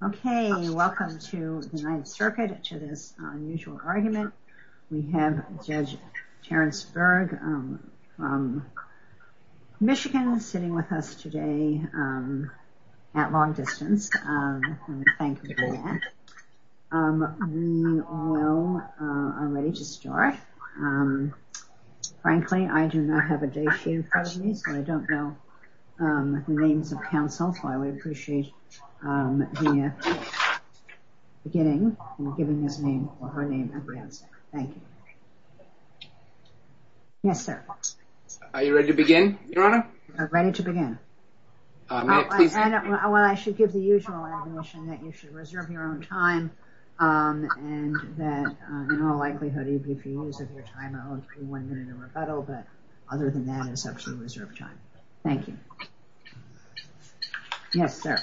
Okay, welcome to the Ninth Circuit to this unusual argument. We have Judge Terrence Berg from Michigan sitting with us today at long distance. Thank you for that. We all know I'm ready to start. Frankly, I do not have a day sheet in front of me, so I don't know the names of counsel, so I would appreciate the beginning and giving his name or her name at the outset. Thank you. Yes, sir. Are you ready to begin, Your Honor? Ready to begin. May I please begin? Well, I should give the usual admission that you should reserve your own time and that in all likelihood, even if you use up your time, I won't give you one minute of rebuttal, but other than that, it's up to you to reserve time. Thank you. Yes, sir.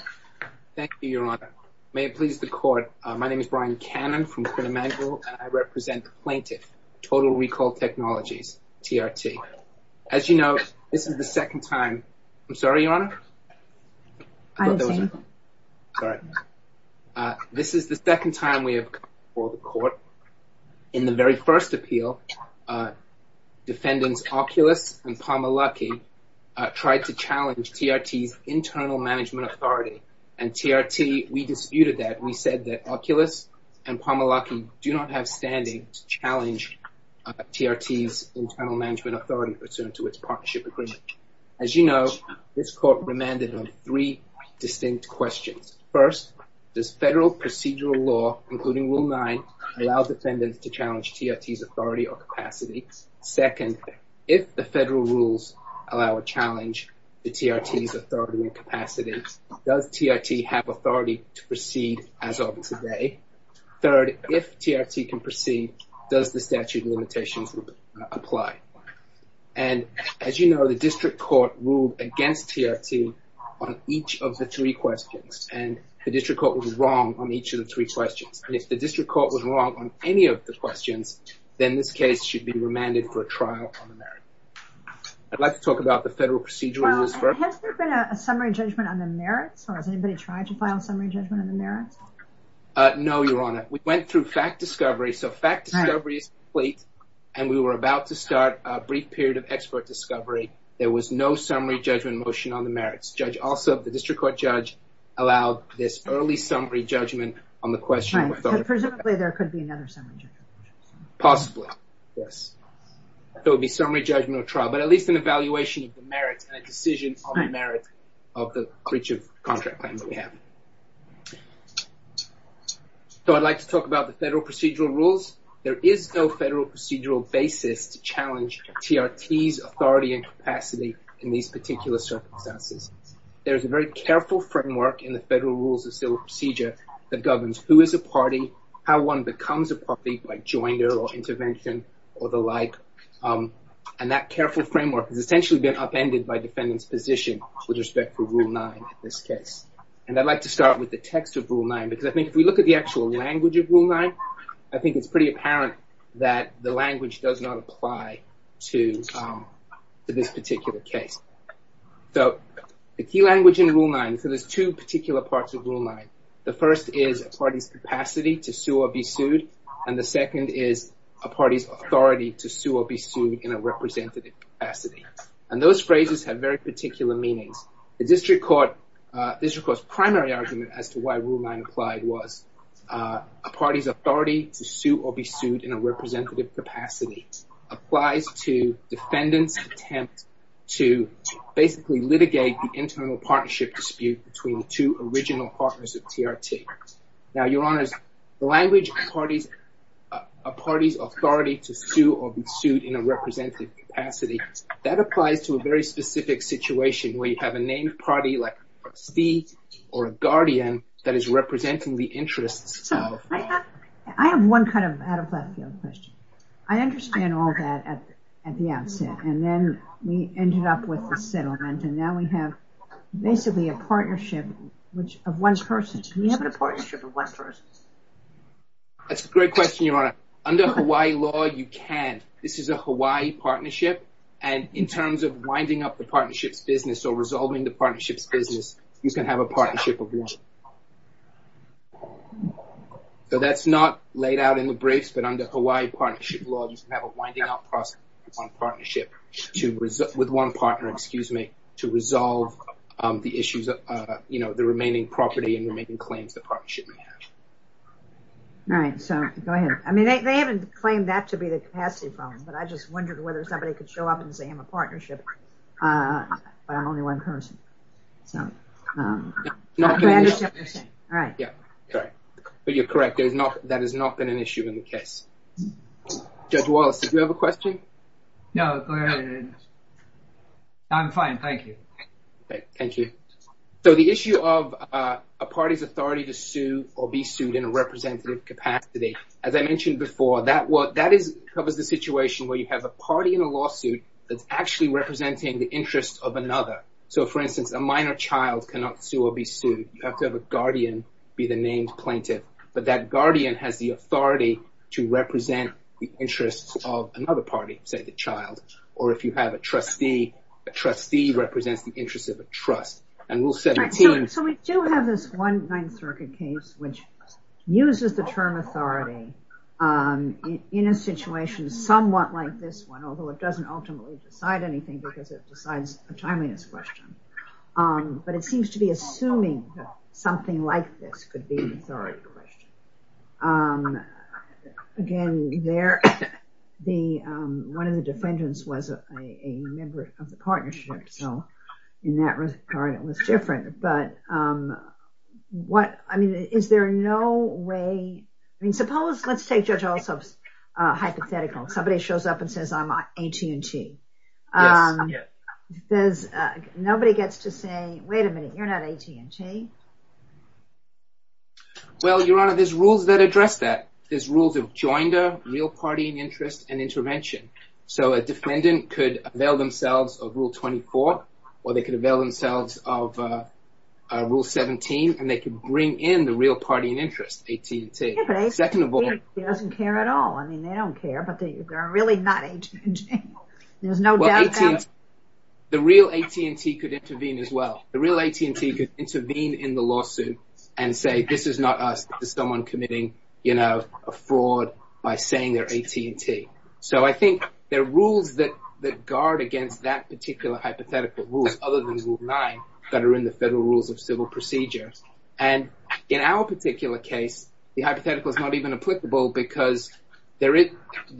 Thank you, Your Honor. May it please the Court, my name is Brian Cannon from Quinn Emanuel, and I represent the plaintiff, Total Recall Technologies, TRT. As you know, this is the second time. I'm sorry, Your Honor? I didn't say anything. Sorry. This is the second time we have come before the Court. In the very first appeal, defendants Oculus and Pomolocky tried to challenge TRT's internal management authority, and TRT, we disputed that. We said that Oculus and Pomolocky do not have standing to challenge TRT's internal management authority pursuant to its partnership agreement. As you know, this Court remanded on three distinct questions. First, does federal procedural law, including Rule 9, allow defendants to challenge TRT's authority or capacity? Second, if the federal rules allow a challenge to TRT's authority and capacity, does TRT have authority to proceed as of today? Third, if TRT can proceed, does the statute of limitations apply? As you know, the District Court ruled against TRT on each of the three questions, and the District Court was wrong on each of the three questions. If the District Court was wrong on any of the questions, then this case should be remanded for a trial on the merits. I'd like to talk about the federal procedural rules first. Has there been a summary judgment on the merits, or has anybody tried to file a summary judgment on the merits? No, Your Honor. We went through fact discovery, so fact discovery is complete, and we were about to start a brief period of expert discovery. There was no summary judgment motion on the merits. Also, the District Court judge allowed this early summary judgment on the question. Presumably, there could be another summary judgment. Possibly, yes. There would be summary judgment or trial, but at least an evaluation of the merits and a decision on the merits of the breach of contract claim that we have. So I'd like to talk about the federal procedural rules. There is no federal procedural basis to challenge TRT's authority and capacity in these particular circumstances. There is a very careful framework in the federal rules of civil procedure that governs who is a party, how one becomes a party, like joiner or intervention or the like, and that careful framework has essentially been upended by defendant's position with respect to Rule 9 in this case. And I'd like to start with the text of Rule 9 because I think if we look at the actual language of Rule 9, I think it's pretty apparent that the language does not apply to this particular case. So the key language in Rule 9, so there's two particular parts of Rule 9. The first is a party's capacity to sue or be sued, and the second is a party's authority to sue or be sued in a representative capacity. And those phrases have very particular meanings. The district court's primary argument as to why Rule 9 applied was a party's authority to sue or be sued in a representative capacity applies to defendant's attempt to basically litigate the internal partnership dispute between the two original partners of TRT. Now, Your Honors, the language, a party's authority to sue or be sued in a representative capacity, that applies to a very specific situation where you have a named party like a proxy or a guardian that is representing the interests. So I have one kind of out-of-left-field question. I understand all that at the outset, and then we ended up with the settlement, and now we have basically a partnership of one person. Can we have a partnership of one person? That's a great question, Your Honor. Under Hawaii law, you can. This is a Hawaii partnership, and in terms of winding up the partnership's business or resolving the partnership's business, you can have a partnership of one. So that's not laid out in the briefs, but under Hawaii partnership law, you can have a winding-up process of one partnership with one partner, excuse me, to resolve the issues of the remaining property and remaining claims the partnership may have. All right, so go ahead. I mean, they haven't claimed that to be the capacity problem, but I just wondered whether somebody could show up and say, I'm a partnership, but I'm only one person. So I understand what you're saying. Yeah, correct. But you're correct. That has not been an issue in the case. Judge Wallace, did you have a question? No, but I'm fine. Thank you. Thank you. So the issue of a party's authority to sue or be sued in a representative capacity, as I mentioned before, that covers the situation where you have a party in a lawsuit that's actually representing the interests of another. So, for instance, a minor child cannot sue or be sued. You have to have a guardian be the named plaintiff, but that guardian has the authority to represent the interests of another party, say the child, or if you have a trustee, a trustee represents the interests of a trust. So we do have this one Ninth Circuit case which uses the term authority in a situation somewhat like this one, although it doesn't ultimately decide anything because it decides a timeliness question. But it seems to be assuming that something like this could be an authority question. Again, one of the defendants was a member of the partnership, so in that regard it was different. But is there no way, I mean, suppose, let's take Judge Alsop's hypothetical. Somebody shows up and says, I'm AT&T. Yes. Nobody gets to say, wait a minute, you're not AT&T? Well, Your Honor, there's rules that address that. There's rules of joinder, real party and interest, and intervention. So a defendant could avail themselves of Rule 24, or they could avail themselves of Rule 17, and they could bring in the real party and interest, AT&T. Yeah, but AT&T doesn't care at all. I mean, they don't care, but they're really not AT&T. There's no doubt about it. The real AT&T could intervene as well. The real AT&T could intervene in the lawsuit and say, this is not us. This is someone committing a fraud by saying they're AT&T. So I think there are rules that guard against that particular hypothetical, rules other than Rule 9 that are in the Federal Rules of Civil Procedure. And in our particular case, the hypothetical is not even applicable because the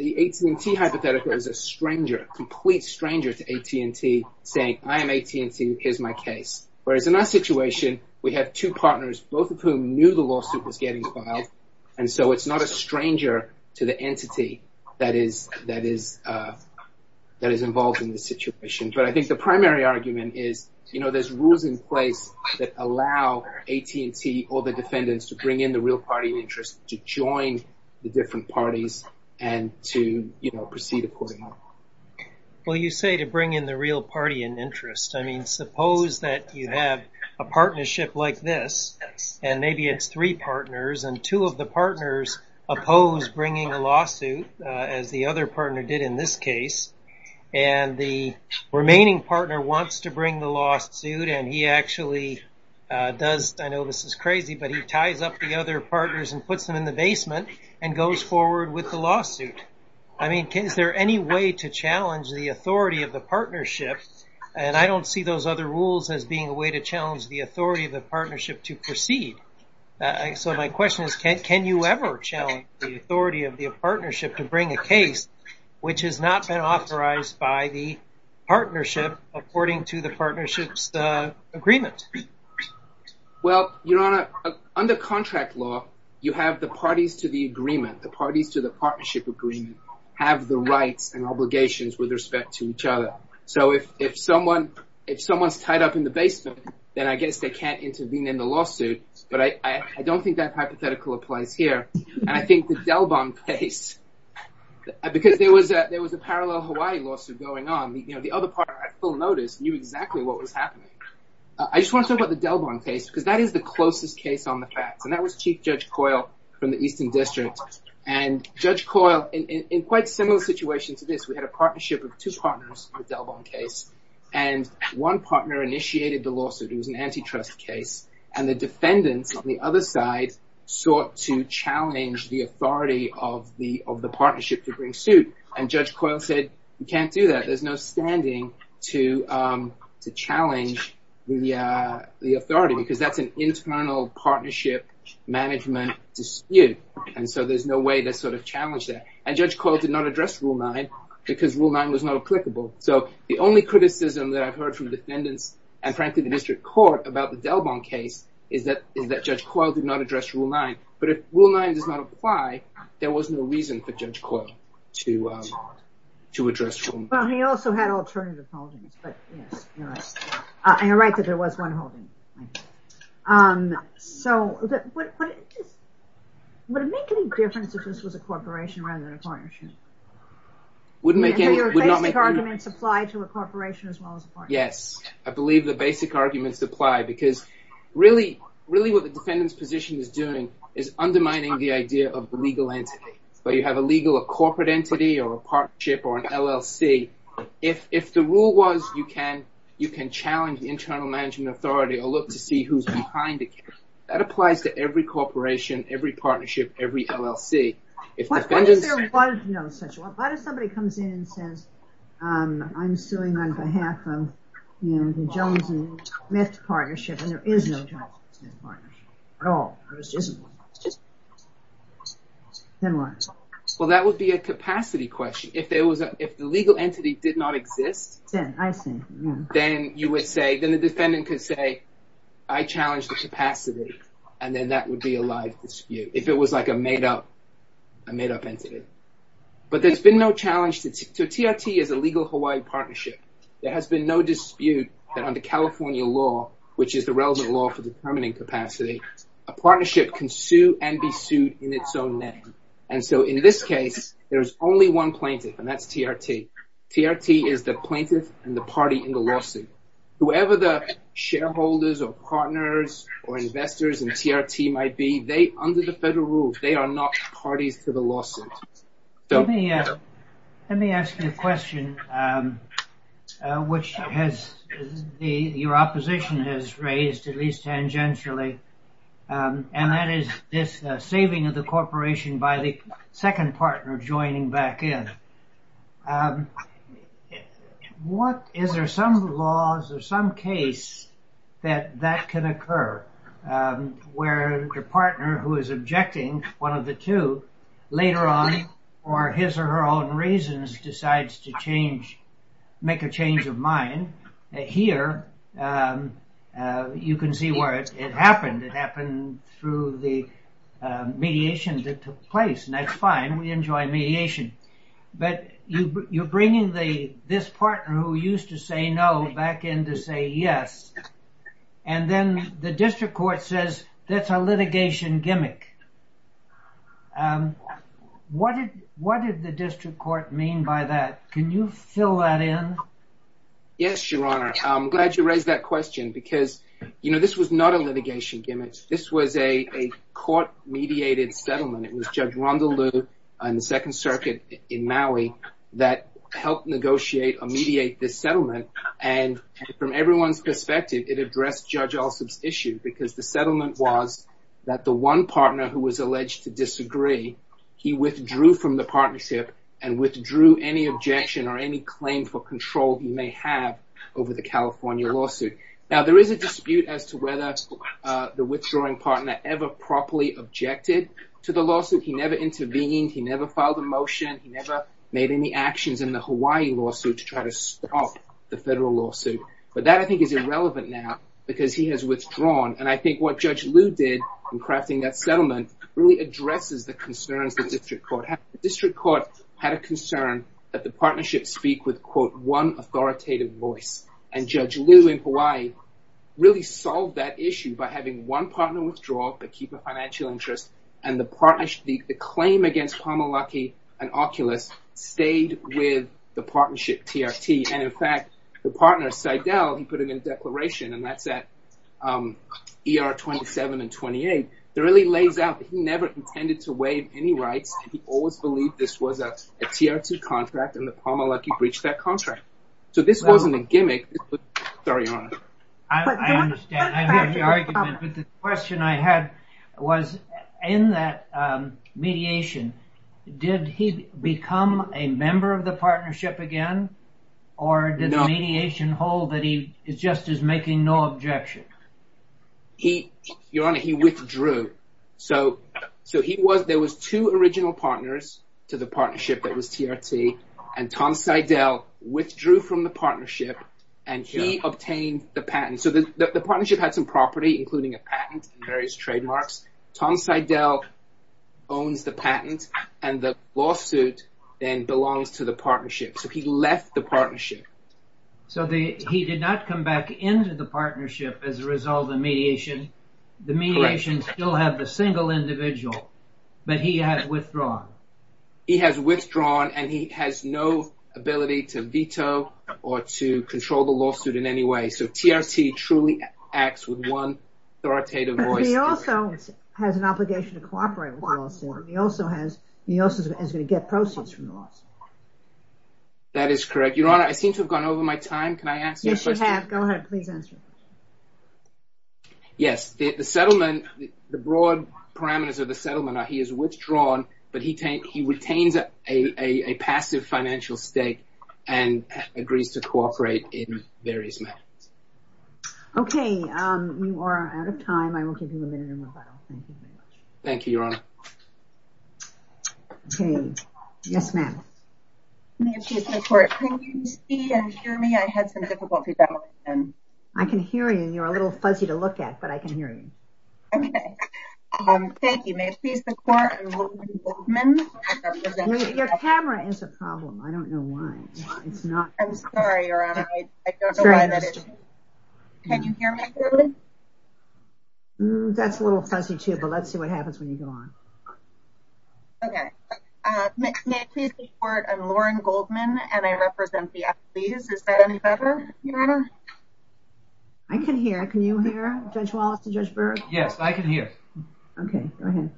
AT&T hypothetical is a stranger, a complete stranger to AT&T saying, I am AT&T, here's my case. Whereas in our situation, we have two partners, both of whom knew the lawsuit was getting filed, and so it's not a stranger to the entity that is involved in this situation. But I think the primary argument is, you know, there's rules in place that allow AT&T or the defendants to bring in the real party in interest, to join the different parties, and to, you know, proceed accordingly. Well, you say to bring in the real party in interest. I mean, suppose that you have a partnership like this, and maybe it's three partners, and two of the partners oppose bringing a lawsuit, as the other partner did in this case, and the remaining partner wants to bring the lawsuit, and he actually does. I know this is crazy, but he ties up the other partners and puts them in the basement and goes forward with the lawsuit. I mean, is there any way to challenge the authority of the partnership? And I don't see those other rules as being a way to challenge the authority of the partnership to proceed. So my question is, can you ever challenge the authority of the partnership to bring a case which has not been authorized by the partnership according to the partnership's agreement? Well, Your Honor, under contract law, you have the parties to the agreement. The parties to the partnership agreement have the rights and obligations with respect to each other. So if someone's tied up in the basement, then I guess they can't intervene in the lawsuit, but I don't think that hypothetical applies here. And I think the Delbon case, because there was a parallel Hawaii lawsuit going on. The other partner, at full notice, knew exactly what was happening. I just want to talk about the Delbon case because that is the closest case on the facts, and that was Chief Judge Coyle from the Eastern District. And Judge Coyle, in quite a similar situation to this, we had a partnership of two partners in the Delbon case, and one partner initiated the lawsuit. It was an antitrust case, and the defendants on the other side sought to challenge the authority of the partnership to bring suit, and Judge Coyle said, you can't do that. There's no standing to challenge the authority because that's an internal partnership management dispute, and so there's no way to sort of challenge that. And Judge Coyle did not address Rule 9 because Rule 9 was not applicable. So the only criticism that I've heard from defendants, and frankly the district court, about the Delbon case is that Judge Coyle did not address Rule 9. But if Rule 9 does not apply, there was no reason for Judge Coyle to address Rule 9. Well, he also had alternative holdings, but yes, you're right. You're right that there was one holding. So would it make any difference if this was a corporation rather than a partnership? Would your basic arguments apply to a corporation as well as a partnership? Yes, I believe the basic arguments apply because really what the defendant's position is doing is undermining the idea of the legal entity. Whether you have a legal or corporate entity or a partnership or an LLC, if the rule was you can challenge the internal management authority or look to see who's behind it, that applies to every corporation, every partnership, every LLC. What if somebody comes in and says, I'm suing on behalf of the Jones and Smith partnership and there is no Jones and Smith partnership at all? Well, that would be a capacity question. If the legal entity did not exist, then the defendant could say, I challenge the capacity, and then that would be a live dispute. If it was like a made-up entity. But there's been no challenge. TRT is a Legal Hawaii Partnership. There has been no dispute that under California law, which is the relevant law for determining capacity, a partnership can sue and be sued in its own name. And so in this case, there's only one plaintiff, and that's TRT. TRT is the plaintiff and the party in the lawsuit. Whoever the shareholders or partners or investors in TRT might be, under the federal rules, they are not parties to the lawsuit. Let me ask you a question, which your opposition has raised at least tangentially. And that is this saving of the corporation by the second partner joining back in. Is there some laws or some case that can occur where the partner who is objecting, one of the two, later on, for his or her own reasons, decides to make a change of mind? Here, you can see where it happened. It happened through the mediation that took place. And that's fine. We enjoy mediation. But you're bringing this partner who used to say no back in to say yes. And then the district court says that's a litigation gimmick. What did the district court mean by that? Can you fill that in? Yes, Your Honor. I'm glad you raised that question. Because, you know, this was not a litigation gimmick. This was a court-mediated settlement. It was Judge Rondalu in the Second Circuit in Maui that helped negotiate or mediate this settlement. And from everyone's perspective, it addressed Judge Alsop's issue. Because the settlement was that the one partner who was alleged to disagree, he withdrew from the partnership and withdrew any objection or any claim for control he may have over the California lawsuit. Now, there is a dispute as to whether the withdrawing partner ever properly objected to the lawsuit. He never intervened. He never filed a motion. He never made any actions in the Hawaii lawsuit to try to stop the federal lawsuit. But that, I think, is irrelevant now because he has withdrawn. And I think what Judge Liu did in crafting that settlement really addresses the concerns the district court had. The district court had a concern that the partnership speak with, quote, one authoritative voice. And Judge Liu in Hawaii really solved that issue by having one partner withdraw, but keep a financial interest. And the claim against Pamelaki and Oculus stayed with the partnership TRT. And, in fact, the partner, Seidel, he put it in a declaration, and that's at ER 27 and 28. It really lays out that he never intended to waive any rights. He always believed this was a TRT contract and that Pamelaki breached that contract. So this wasn't a gimmick. Sorry, Your Honor. I understand. I hear the argument. But the question I had was in that mediation, did he become a member of the partnership again? Or did the mediation hold that he just is making no objection? Your Honor, he withdrew. So there was two original partners to the partnership that was TRT. And Tom Seidel withdrew from the partnership, and he obtained the patent. So the partnership had some property, including a patent and various trademarks. Tom Seidel owns the patent, and the lawsuit then belongs to the partnership. So he left the partnership. So he did not come back into the partnership as a result of the mediation. The mediation still has the single individual, but he has withdrawn. He has withdrawn, and he has no ability to veto or to control the lawsuit in any way. So TRT truly acts with one authoritative voice. He also has an obligation to cooperate with the lawsuit. He also is going to get proceeds from the lawsuit. That is correct. Your Honor, I seem to have gone over my time. Yes, you have. Go ahead. Please answer. Yes, the settlement, the broad parameters of the settlement are he has withdrawn, but he retains a passive financial stake and agrees to cooperate in various matters. Okay, we are out of time. I will give you a minute. Thank you, Your Honor. Okay. Yes, ma'am. May it please the Court, can you see and hear me? I had some difficulty. I can hear you, and you are a little fuzzy to look at, but I can hear you. Okay. Thank you. May it please the Court, I'm Lillian Goldman. Your camera is a problem. I don't know why. I'm sorry, Your Honor. I don't know why that is. Can you hear me clearly? That's a little fuzzy, too, but let's see what happens when you go on. Okay. May it please the Court, I'm Lauren Goldman, and I represent the athletes. Is that any better, Your Honor? I can hear. Can you hear Judge Wallace and Judge Berg? Yes, I can hear. Okay. Go ahead.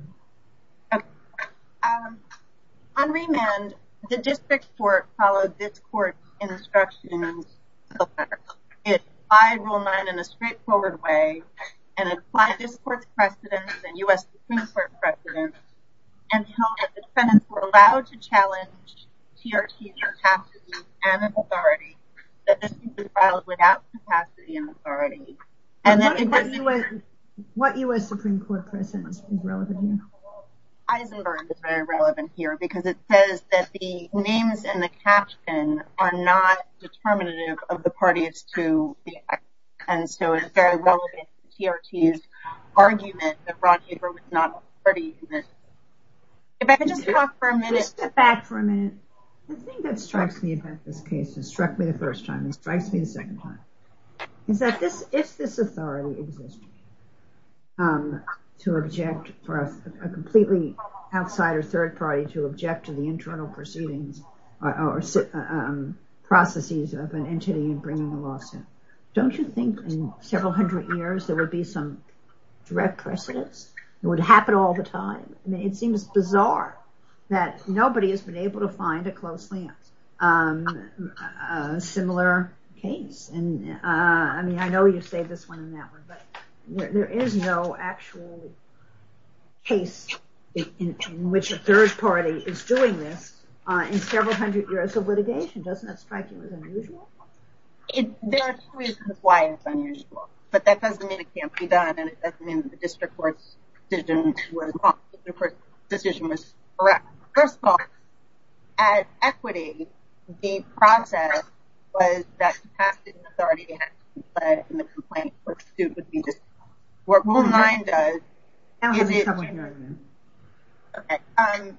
On remand, the District Court followed this Court's instructions to apply Rule 9 in a straightforward way and apply this Court's precedents and U.S. Supreme Court precedents until the defendants were allowed to challenge TRT's capacity and authority that this be filed without capacity and authority. What U.S. Supreme Court precedent is relevant here? Eisenberg is very relevant here because it says that the names in the caption are not determinative of the parties to the act, and so it's very relevant to TRT's argument that Ron Haber was not a party to this. If I could just talk for a minute. Just step back for a minute. The thing that strikes me about this case, it struck me the first time, it strikes me the second time, is that if this authority exists to object for a completely outsider third party to object to the internal proceedings or processes of an entity bringing a lawsuit, don't you think in several hundred years there would be some direct precedence? It would happen all the time. It seems bizarre that nobody has been able to find a closely similar case. I mean, I know you saved this one and that one, but there is no actual case in which a third party is doing this in several hundred years of litigation. Doesn't that strike you as unusual? There are two reasons why it's unusual, but that doesn't mean it can't be done and it doesn't mean that the district court's decision was wrong. The district court's decision was correct. First of all, as equity, the process was that the past authority had to comply with the complaint or the suit would be disqualified. What Rule 9 does is it— I don't hear you. Okay.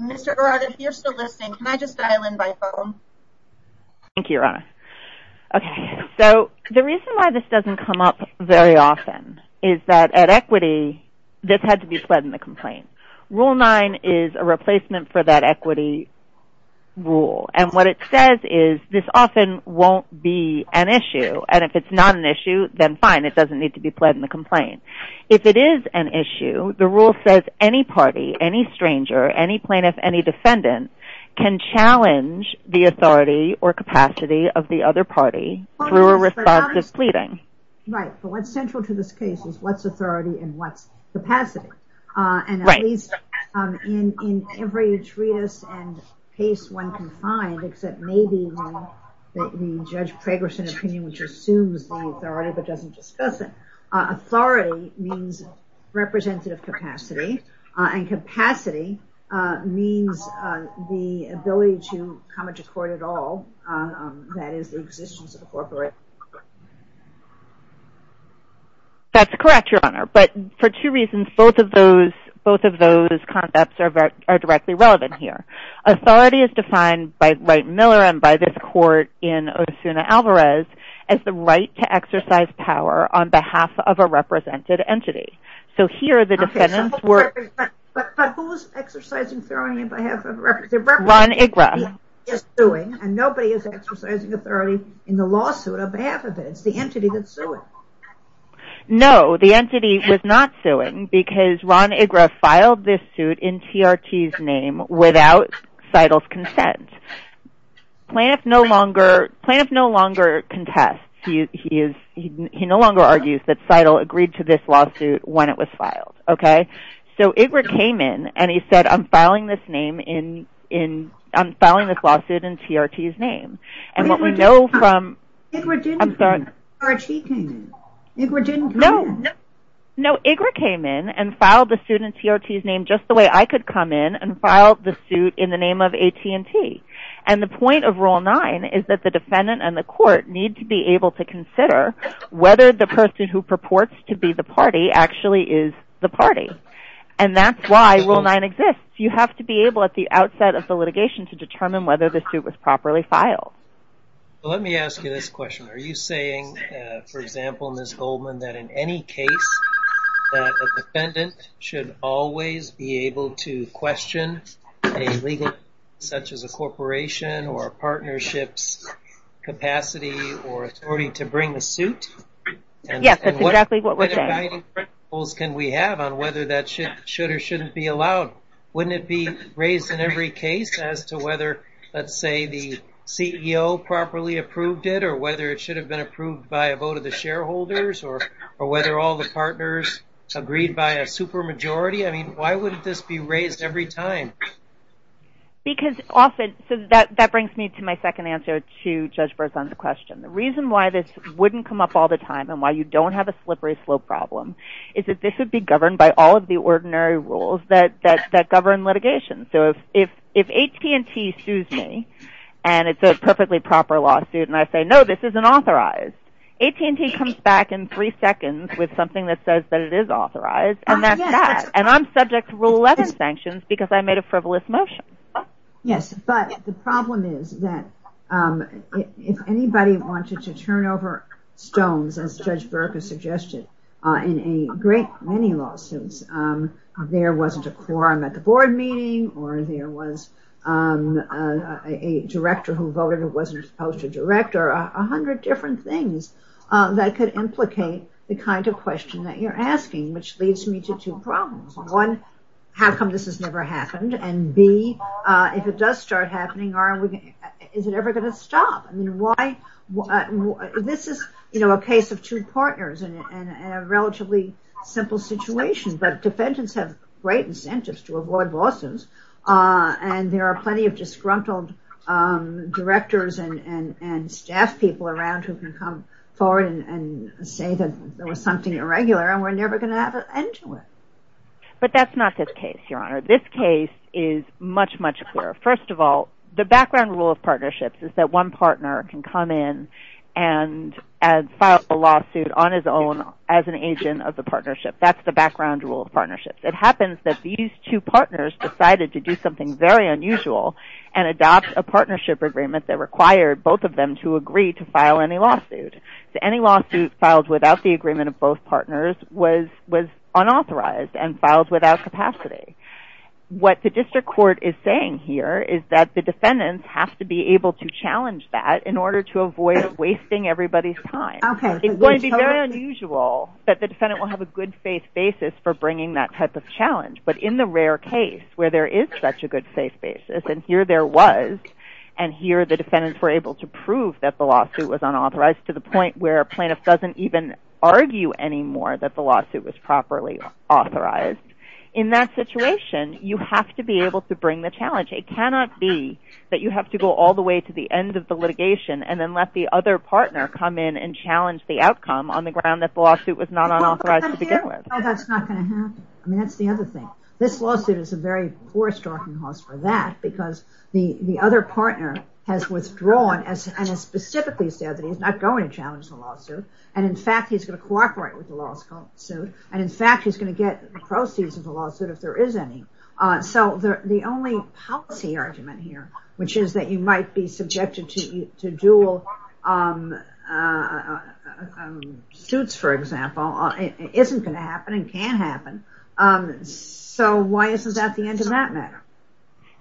Mr. Arad, if you're still listening, can I just dial in by phone? Thank you, Your Honor. Okay. So the reason why this doesn't come up very often is that at equity, this had to be pled in the complaint. Rule 9 is a replacement for that equity rule, and what it says is this often won't be an issue, and if it's not an issue, then fine. It doesn't need to be pled in the complaint. If it is an issue, the rule says any party, any stranger, any plaintiff, any defendant, can challenge the authority or capacity of the other party through a responsive pleading. Right. But what's central to this case is what's authority and what's capacity. Right. And at least in every treatise and case one can find, except maybe the Judge Pragerson opinion, which assumes the authority but doesn't discuss it, authority means representative capacity, and capacity means the ability to come to court at all, that is the existence of a corporate. That's correct, Your Honor, but for two reasons both of those concepts are directly relevant here. Authority is defined by Wright and Miller and by this court in Osuna-Alvarez as the right to exercise power on behalf of a represented entity. But who is exercising authority on behalf of a represented entity? Ron Ygra. He is suing and nobody is exercising authority in the lawsuit on behalf of it. It's the entity that's suing. No, the entity was not suing because Ron Ygra filed this suit in TRT's name without Seidel's consent. Plaintiff no longer contests, he no longer argues that Seidel agreed to this lawsuit when it was filed. So Ygra came in and he said, I'm filing this lawsuit in TRT's name. No, Ygra came in and filed the suit in TRT's name just the way I could come in and file the suit in the name of AT&T. And the point of Rule 9 is that the defendant and the court need to be able to consider whether the person who purports to be the party actually is the party. And that's why Rule 9 exists. You have to be able at the outset of the litigation to determine whether the suit was properly filed. Let me ask you this question. Are you saying, for example, Ms. Goldman, that in any case that a defendant should always be able to question a legal entity such as a corporation or a partnership's capacity or authority to bring a suit? Yes, that's exactly what we're saying. What guiding principles can we have on whether that should or shouldn't be allowed? Wouldn't it be raised in every case as to whether, let's say, the CEO properly approved it or whether it should have been approved by a vote of the shareholders or whether all the partners agreed by a supermajority? Why would this be raised every time? That brings me to my second answer to Judge Berzon's question. The reason why this wouldn't come up all the time and why you don't have a slippery slope problem is that this would be governed by all of the ordinary rules that govern litigation. So if AT&T sues me and it's a perfectly proper lawsuit, and I say, no, this isn't authorized, AT&T comes back in three seconds with something that says that it is authorized, and that's that. And I'm subject to Rule 11 sanctions because I made a frivolous motion. Yes, but the problem is that if anybody wanted to turn over stones, as Judge Burke has suggested, in a great many lawsuits, there wasn't a quorum at the board meeting or there was a director who voted who wasn't supposed to direct or a hundred different things that could implicate the kind of question that you're asking, which leads me to two problems. One, how come this has never happened? And B, if it does start happening, is it ever going to stop? This is a case of two partners in a relatively simple situation, but defendants have great incentives to avoid lawsuits, and there are plenty of disgruntled directors and staff people around who can come forward and say that there was something irregular and we're never going to have an end to it. But that's not this case, Your Honor. This case is much, much clearer. First of all, the background rule of partnerships is that one partner can come in and file a lawsuit on his own as an agent of the partnership. That's the background rule of partnerships. It happens that these two partners decided to do something very unusual and adopt a partnership agreement that required both of them to agree to file any lawsuit. So any lawsuit filed without the agreement of both partners was unauthorized and filed without capacity. What the district court is saying here is that the defendants have to be able to challenge that in order to avoid wasting everybody's time. It's going to be very unusual that the defendant will have a good faith basis for bringing that type of challenge. But in the rare case where there is such a good faith basis, and here there was, and here the defendants were able to prove that the lawsuit was unauthorized to the point where a plaintiff doesn't even argue anymore that the lawsuit was properly authorized, in that situation you have to be able to bring the challenge. It cannot be that you have to go all the way to the end of the litigation and then let the other partner come in and challenge the outcome on the ground that the lawsuit was not unauthorized to begin with. That's not going to happen. That's the other thing. This lawsuit is a very poor starting cause for that because the other partner has withdrawn and has specifically said that he's not going to challenge the lawsuit and in fact he's going to cooperate with the lawsuit and in fact he's going to get the proceeds of the lawsuit if there is any. So the only policy argument here, which is that you might be subjected to dual suits for example, isn't going to happen and can't happen. So why isn't that the end of that matter?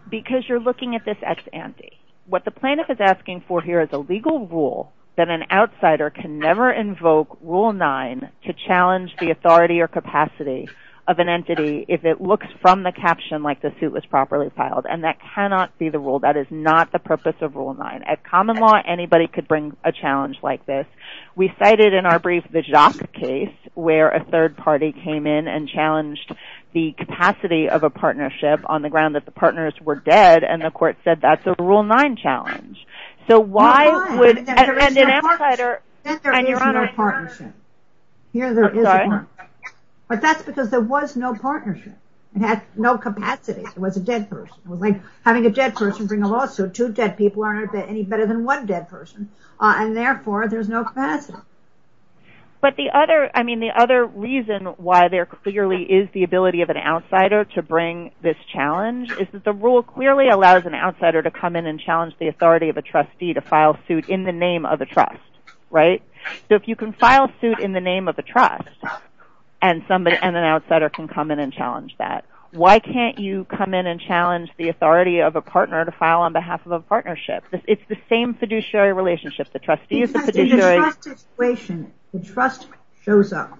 Because you're looking at this ex ante. What the plaintiff is asking for here is a legal rule that an outsider can never invoke Rule 9 to challenge the authority or capacity of an entity if it looks from the caption like the suit was properly filed and that cannot be the rule. That is not the purpose of Rule 9. At common law anybody could bring a challenge like this. We cited in our brief the Jacques case where a third party came in and challenged the capacity of a partnership on the ground that the partners were dead and the court said that's a Rule 9 challenge. So why would an outsider... There is no partnership. Here there is a partnership. But that's because there was no partnership. It had no capacity. It was a dead person. It was like having a dead person bring a lawsuit. Two dead people aren't any better than one dead person and therefore there's no capacity. But the other reason why there clearly is the ability of an outsider to bring this challenge is that the rule clearly allows an outsider to come in and challenge the authority of a trustee to file suit in the name of a trust. Right? So if you can file suit in the name of a trust and an outsider can come in and challenge that, why can't you come in and challenge the authority of a partner to file on behalf of a partnership? It's the same fiduciary relationship. The trustee is the fiduciary... In the trust situation, the trust shows up,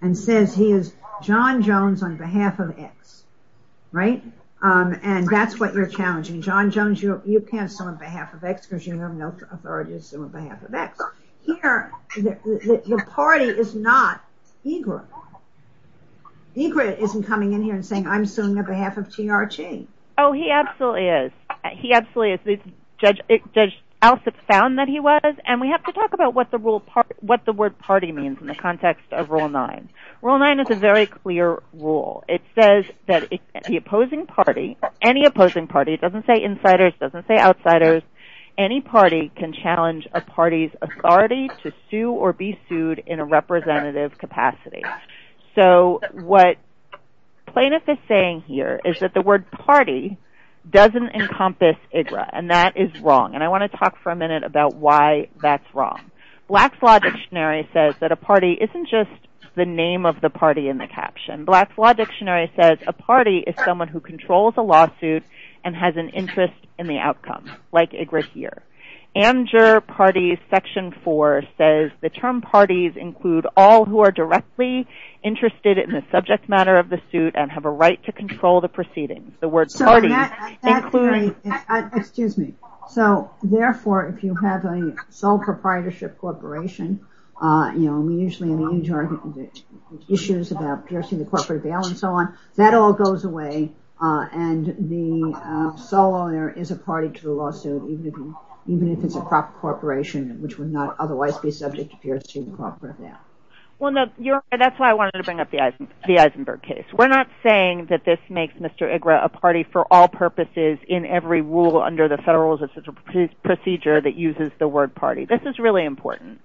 and says he is John Jones on behalf of X. Right? And that's what you're challenging. John Jones, you can't sue on behalf of X because you have no authority to sue on behalf of X. Here, the party is not EGRT. EGRT isn't coming in here and saying, I'm suing on behalf of TRT. Oh, he absolutely is. He absolutely is. Judge Alsop found that he was, and we have to talk about what the word party means in the context of Rule 9. Rule 9 is a very clear rule. It says that the opposing party, any opposing party, it doesn't say insiders, it doesn't say outsiders, any party can challenge a party's authority to sue or be sued in a representative capacity. So what Plaintiff is saying here is that the word party doesn't encompass EGRT, and that is wrong. And I want to talk for a minute about why that's wrong. Black's Law Dictionary says that a party isn't just the name of the party in the caption. Black's Law Dictionary says a party is someone who controls a lawsuit and has an interest in the outcome, like EGRT here. AmJur Party Section 4 says the term parties include all who are directly interested in the subject matter of the suit and have a right to control the proceedings. Excuse me. So, therefore, if you have a sole proprietorship corporation, you know, usually in the UJR issues about piercing the corporate bail and so on, that all goes away and the sole owner is a party to the lawsuit even if it's a proper corporation which would not otherwise be subject to piercing the corporate bail. Well, that's why I wanted to bring up the Eisenberg case. We're not saying that this makes Mr. EGRT a party for all purposes in every rule under the Federal Rules of Procedure that uses the word party. This is really important.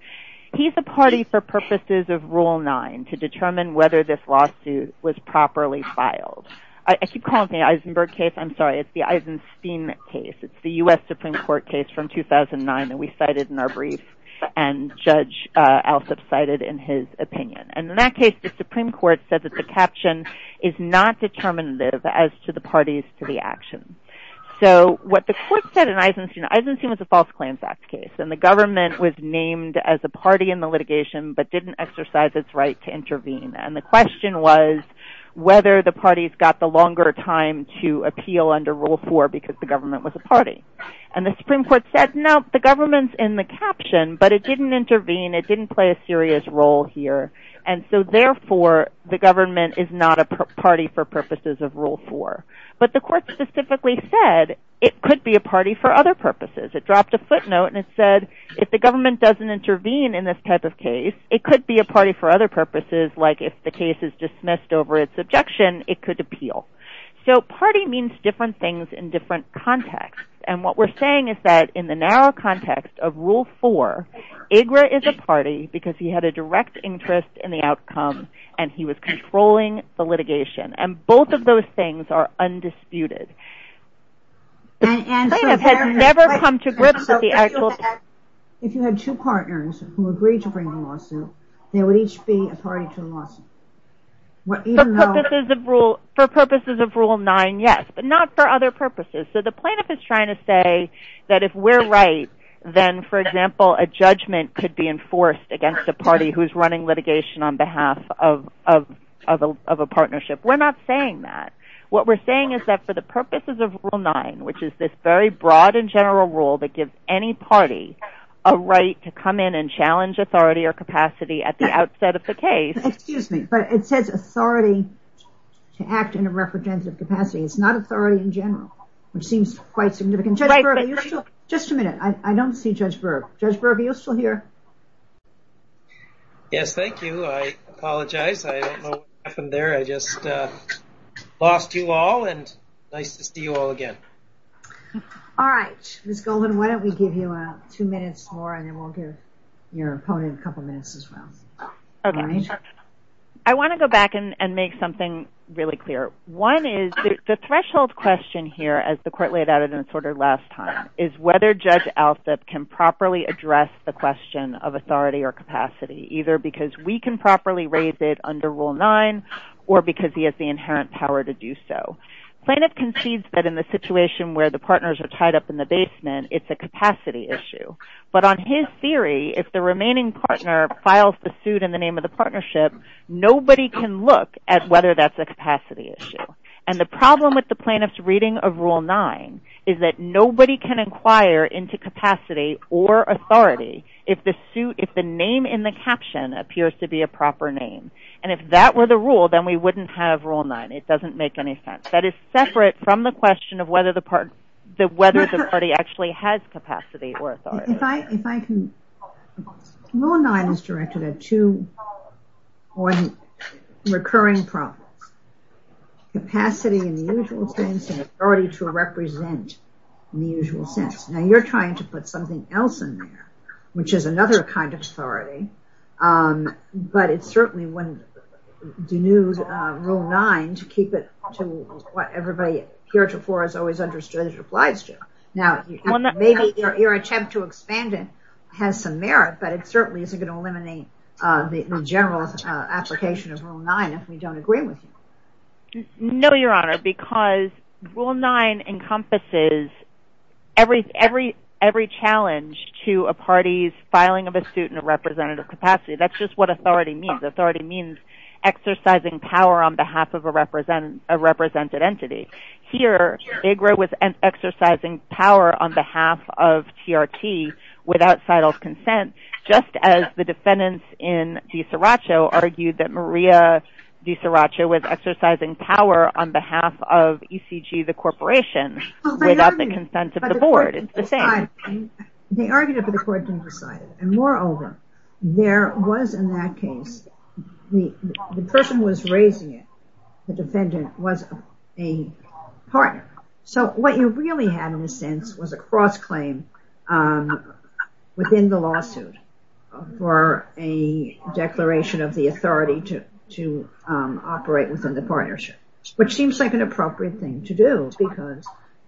He's a party for purposes of Rule 9 to determine whether this lawsuit was properly filed. I keep calling it the Eisenberg case. I'm sorry, it's the Eisenstein case. It's the U.S. Supreme Court case from 2009 that we cited in our brief and Judge Alsup cited in his opinion. And in that case, the Supreme Court said that the caption is not determinative as to the parties to the action. So, what the court said in Eisenstein, Eisenstein was a false claims act case and the government was named as a party in the litigation but didn't exercise its right to intervene. And the question was whether the parties got the longer time to appeal under Rule 4 because the government was a party. And the Supreme Court said, no, the government's in the caption but it didn't intervene, it didn't play a serious role here and so therefore, the government is not a party for purposes of Rule 4. But the court specifically said it could be a party for other purposes. It dropped a footnote and it said if the government doesn't intervene in this type of case, it could be a party for other purposes like if the case is dismissed over its objection, it could appeal. So, party means different things in different contexts. And what we're saying is that in the narrow context of Rule 4, IGRA is a party because he had a direct interest in the outcome and he was controlling the litigation. And both of those things are undisputed. The plaintiff has never come to grips with the actual... If you had two partners who agreed to bring the lawsuit, they would each be a party to the lawsuit. For purposes of Rule 9, yes, but not for other purposes. So, the plaintiff is trying to say that if we're right, then, for example, a judgment could be enforced against a party who's running litigation on behalf of a partnership. We're not saying that. What we're saying is that for the purposes of Rule 9, which is this very broad and general rule that gives any party a right to come in and challenge authority or capacity at the outset of the case... Excuse me, but it says authority to act in a representative capacity. It's not authority in general, which seems quite significant. Just a minute, I don't see Judge Berg. Judge Berg, are you still here? Yes, thank you. I apologize. I don't know what happened there. I just lost you all, and nice to see you all again. All right, Ms. Goldman, why don't we give you two minutes more, and then we'll give your opponent a couple minutes as well. I want to go back and make something really clear. One is, the threshold question here, as the Court laid out in its order last time, is whether Judge Alsup can properly address the question of authority or capacity, either because we can properly raise it under Rule 9, or because he has the inherent power to do so. Plaintiff concedes that in the situation where the partners are tied up in the basement, it's a capacity issue. But on his theory, if the remaining partner files the suit in the name of the partnership, nobody can look at whether that's a capacity issue. And the problem with the plaintiff's reading of Rule 9 is that nobody can inquire into capacity or authority if the name in the caption appears to be a proper name. And if that were the rule, then we wouldn't have Rule 9. It doesn't make any sense. That is separate from the question of whether the party actually has capacity or authority. Rule 9 is directed at two recurring problems. Capacity in the usual sense, and authority to represent in the usual sense. Now you're trying to put something else in there, which is another kind of authority, but it's certainly one that denudes Rule 9 to keep it to what everybody heretofore has always understood it applies to. Now, maybe your attempt to expand it has some merit, but it certainly isn't going to eliminate the general application of Rule 9 if we don't agree with you. No, Your Honor, because Rule 9 encompasses every challenge to a party's filing of a suit in a representative capacity. That's just what authority means. Authority means exercising power on behalf of a represented entity. Here, they grow with exercising power on behalf of TRT with outside consent, just as the defendants in De Seracha was exercising power on behalf of ECG, the corporation, without the consent of the board. It's the same. They argued it, but the court didn't decide it. And moreover, there was in that case the person who was raising it, the defendant, was a partner. So what you really had in a sense was a cross-claim within the lawsuit for a defendant to operate within the partnership, which seems like an appropriate thing to do because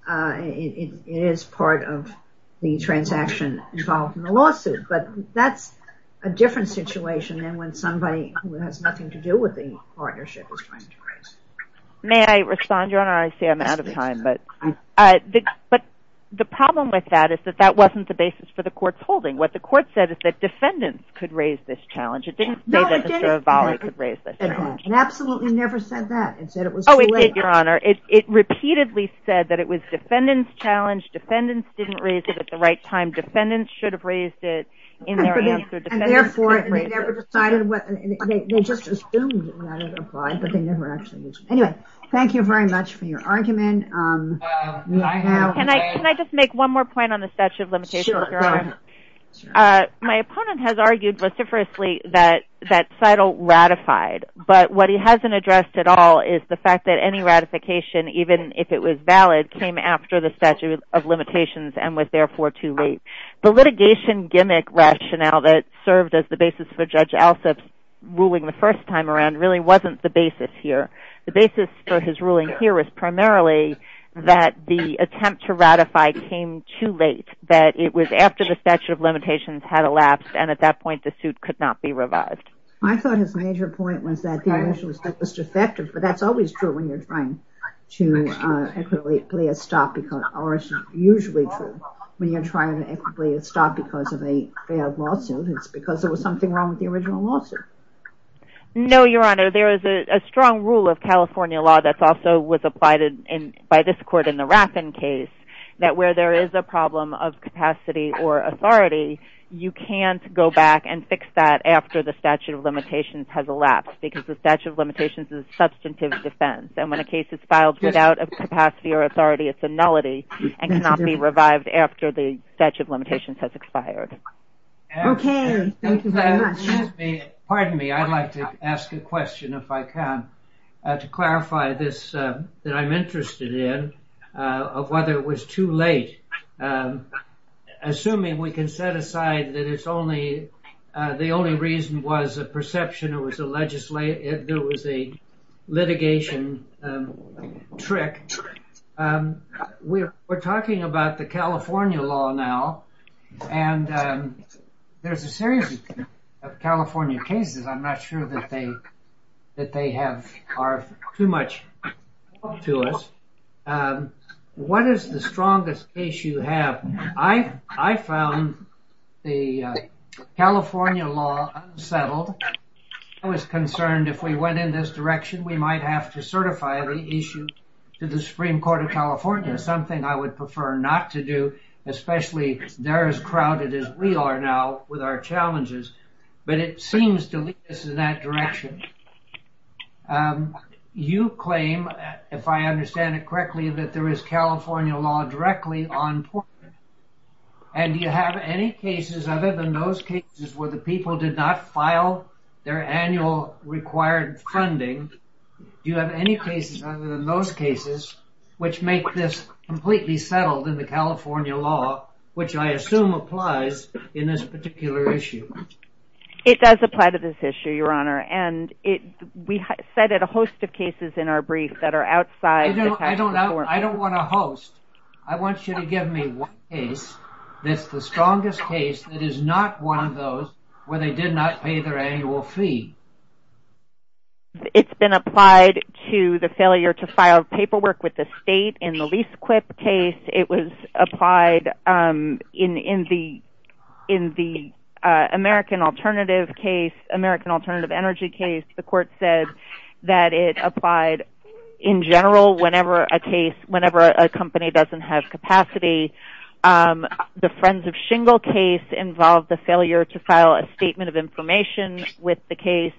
it is part of the transaction involved in the lawsuit. But that's a different situation than when somebody who has nothing to do with the partnership is trying to raise. May I respond, Your Honor? I see I'm out of time, but the problem with that is that that wasn't the basis for the court's holding. What the court said is that defendants could raise this and absolutely never said that. Oh, it did, Your Honor. It repeatedly said that it was defendants' challenge. Defendants didn't raise it at the right time. Defendants should have raised it in their answer. And therefore, they never decided. They just assumed that it applied, but they never actually did. Anyway, thank you very much for your argument. Can I just make one more point on the statute of limitations, Your Honor? My opponent has argued vociferously that but what he hasn't addressed at all is the fact that any ratification, even if it was valid, came after the statute of limitations and was therefore too late. The litigation gimmick rationale that served as the basis for Judge Alsup's ruling the first time around really wasn't the basis here. The basis for his ruling here is primarily that the attempt to ratify came too late, that it was after the statute of limitations had elapsed and at that point the suit could not be That was defective, but that's always true when you're trying to equitably stop because or it's usually true when you're trying to equitably stop because of a bad lawsuit. It's because there was something wrong with the original lawsuit. No, Your Honor. There is a strong rule of California law that's also was applied by this court in the Raffin case that where there is a problem of capacity or authority, you can't go back and fix that after the statute of limitations is substantive defense and when a case is filed without capacity or authority, it's a nullity and cannot be revived after the statute of limitations has expired. Okay. Thank you very much. Excuse me. Pardon me. I'd like to ask a question if I can to clarify this that I'm interested in of whether it was too late. Assuming we can set aside that it's only the only reason was a perception or was a litigation trick. We're talking about the California law now and there's a series of California cases. I'm not sure that they are too much to us. What is the strongest case you have? I found the I was concerned if we went in this direction, we might have to certify the issue to the Supreme Court of California. Something I would prefer not to do especially they're as crowded as we are now with our challenges but it seems to lead us in that direction. You claim if I understand it correctly that there is California law directly on court and do you have any cases other than those cases where the people did not file their annual required funding? Do you have any cases other than those cases which make this completely settled in the California law which I assume applies in this particular issue? It does apply to this issue your honor and we cited a host of cases in our brief that are outside the tax reform. I don't want a host. I want you to give me one case that's the strongest case that is not one of those where they did not pay their annual fee. It's been applied to the failure to file paperwork with the state in the lease quip case. It was applied in the American alternative case, American alternative energy case. The court said that it applied in general whenever a case, whenever a company doesn't have capacity. The Friends of Shingle case involved the failure to file a statement of information with the case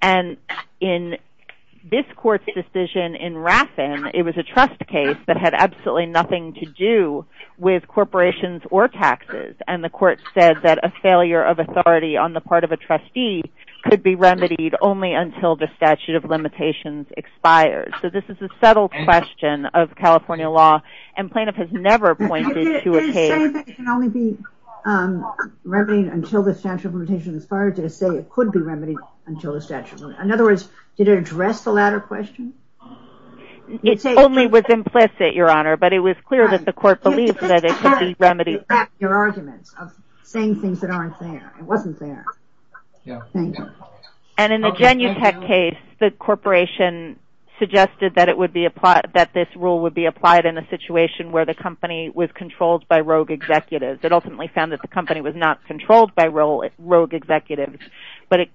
and in this court's decision in Raffen, it was a trust case that had absolutely nothing to do with corporations or taxes and the court said that a failure of authority on the part of a trustee could be remedied only until the statute of limitations expires. So this is a settled question of California law and Planoff has never pointed to a case. It's saying that it can only be remedied until the statute of limitations expires. Did it say it could be remedied until the statute? In other words, did it address the latter question? It only was implicit, Your Honor, but it was clear that the court believed that it could be remedied. Your argument of saying things that aren't there. It wasn't there. And in the Genutech case, the corporation suggested that this rule would be applied in a situation where the company was controlled by rogue executives. It ultimately found that the company was not controlled by rogue executives, but it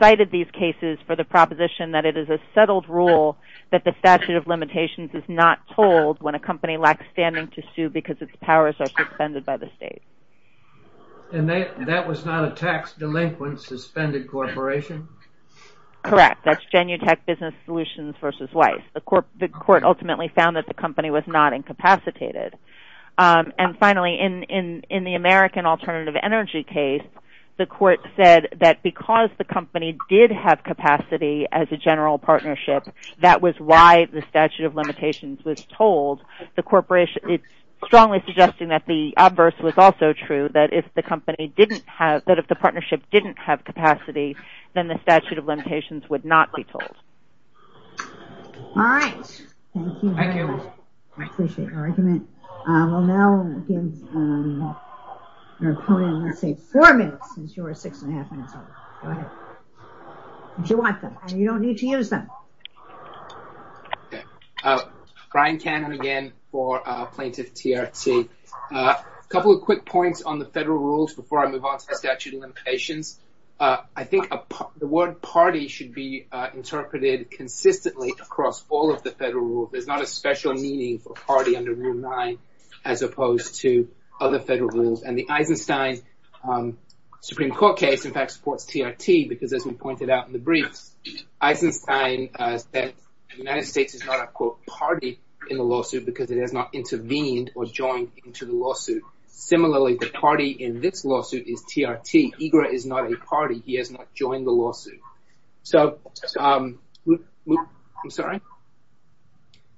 cited these cases for the proposition that it is a settled rule that the statute of limitations is not told when a company lacks standing to sue because its powers are suspended by the state. And that was not a tax delinquent suspended corporation? Correct. That's Genutech Business Solutions v. Weiss. The court ultimately found that the company was not incapacitated. And finally, in the American Alternative Energy case, the court said that because the company did have capacity as a general partnership, that was why the statute of limitations was told. It's strongly suggesting that the obverse was also true, that if the company didn't have, that if the partnership didn't have capacity, then the statute of limitations would not be told. All right. Thank you very much. I appreciate your argument. We'll now give our opponent, let's say, four minutes since you were six and a half minutes old. Go ahead. You don't need to use them. Brian Cannon again for Plaintiff TRT. A couple of quick points on the federal rules before I move on to the statute of limitations. I think the word party should be interpreted consistently across all of the federal rule. There's not a special meaning for party under Rule 9, as opposed to other federal rules. And the Eisenstein Supreme Court case, in fact, supports TRT because, as we pointed out in the brief, Eisenstein said the United States is not a, quote, party in the lawsuit because it has not intervened or joined into the lawsuit. Similarly, the party in this lawsuit is TRT. IGRA is not a party. He has not joined the lawsuit. So, I'm sorry?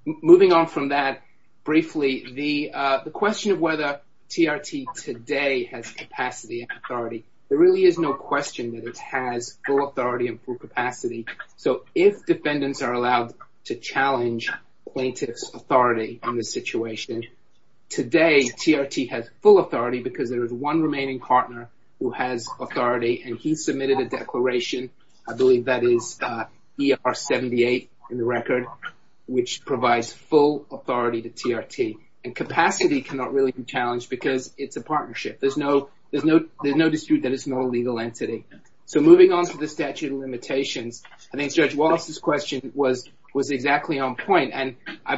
Moving on from that, briefly, the question of whether TRT today has capacity and authority, there really is no question that it has full authority and full capacity. So, if defendants are allowed to challenge plaintiff's authority in this situation, today, TRT has full authority because there is one remaining partner who has authority, and he submitted a declaration, I believe that is ER 78 in the record, which provides full authority to TRT. And capacity cannot really be challenged because it's a partnership. There's no dispute that it's not a legal entity. So, moving on to the statute of limitations, I think Judge Wallace's question was exactly on point, and I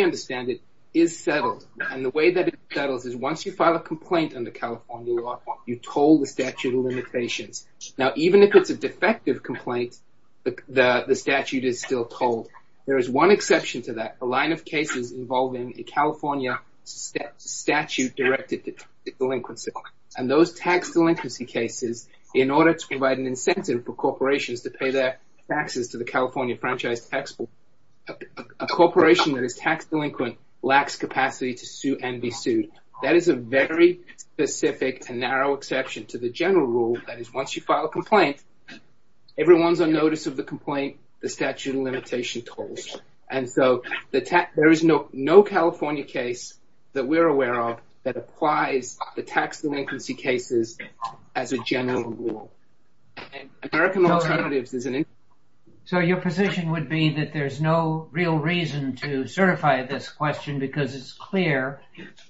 understand it is settled. And the way that it settles is once you file a complaint under California law, you toll the statute of limitations. Now, even if it's a defective complaint, the statute is still tolled. There is one exception to that, a line of cases involving a California statute directed to delinquency. And those tax delinquency cases, in order to provide an incentive for corporations to pay their taxes to the California Franchise Tax Board, a corporation that is tax delinquent lacks capacity to sue and be sued. That is a very specific and narrow exception to the general rule that is once you file a complaint, everyone's on notice of the complaint, the statute of limitations tolls. And so, there is no California case that we're aware of that applies the tax delinquency cases as a general rule. And American Alternatives is an... So, your position would be that there's no real reason to certify this question because it's clear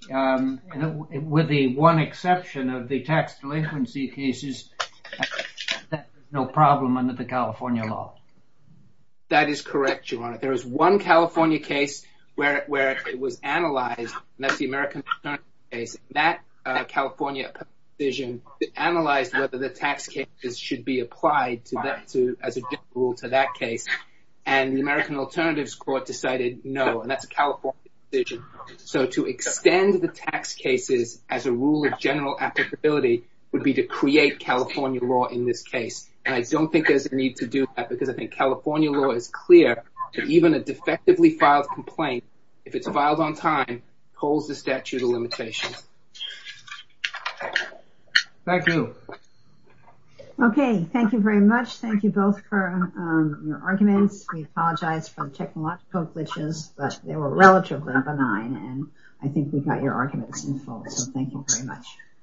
with the one exception of the tax delinquency cases, that there's no problem under the California law. That is correct, Your Honor. There is one California case where it was analyzed, and that's the American Alternative case. That California provision analyzed whether the tax cases should be applied as a general rule to that case, and the American Alternatives court decided no, and that's a California provision. So, to extend the tax cases as a rule of general applicability would be to create California law in this case. And I don't think there's a need to do that because I think California law is clear that even a defectively filed complaint, if it's filed on time, holds the statute of limitations. Thank you. Okay. Thank you very much. Thank you both for your arguments. We apologize for the technological glitches, but they were relatively benign, and I think we got your arguments in full, so thank you very much.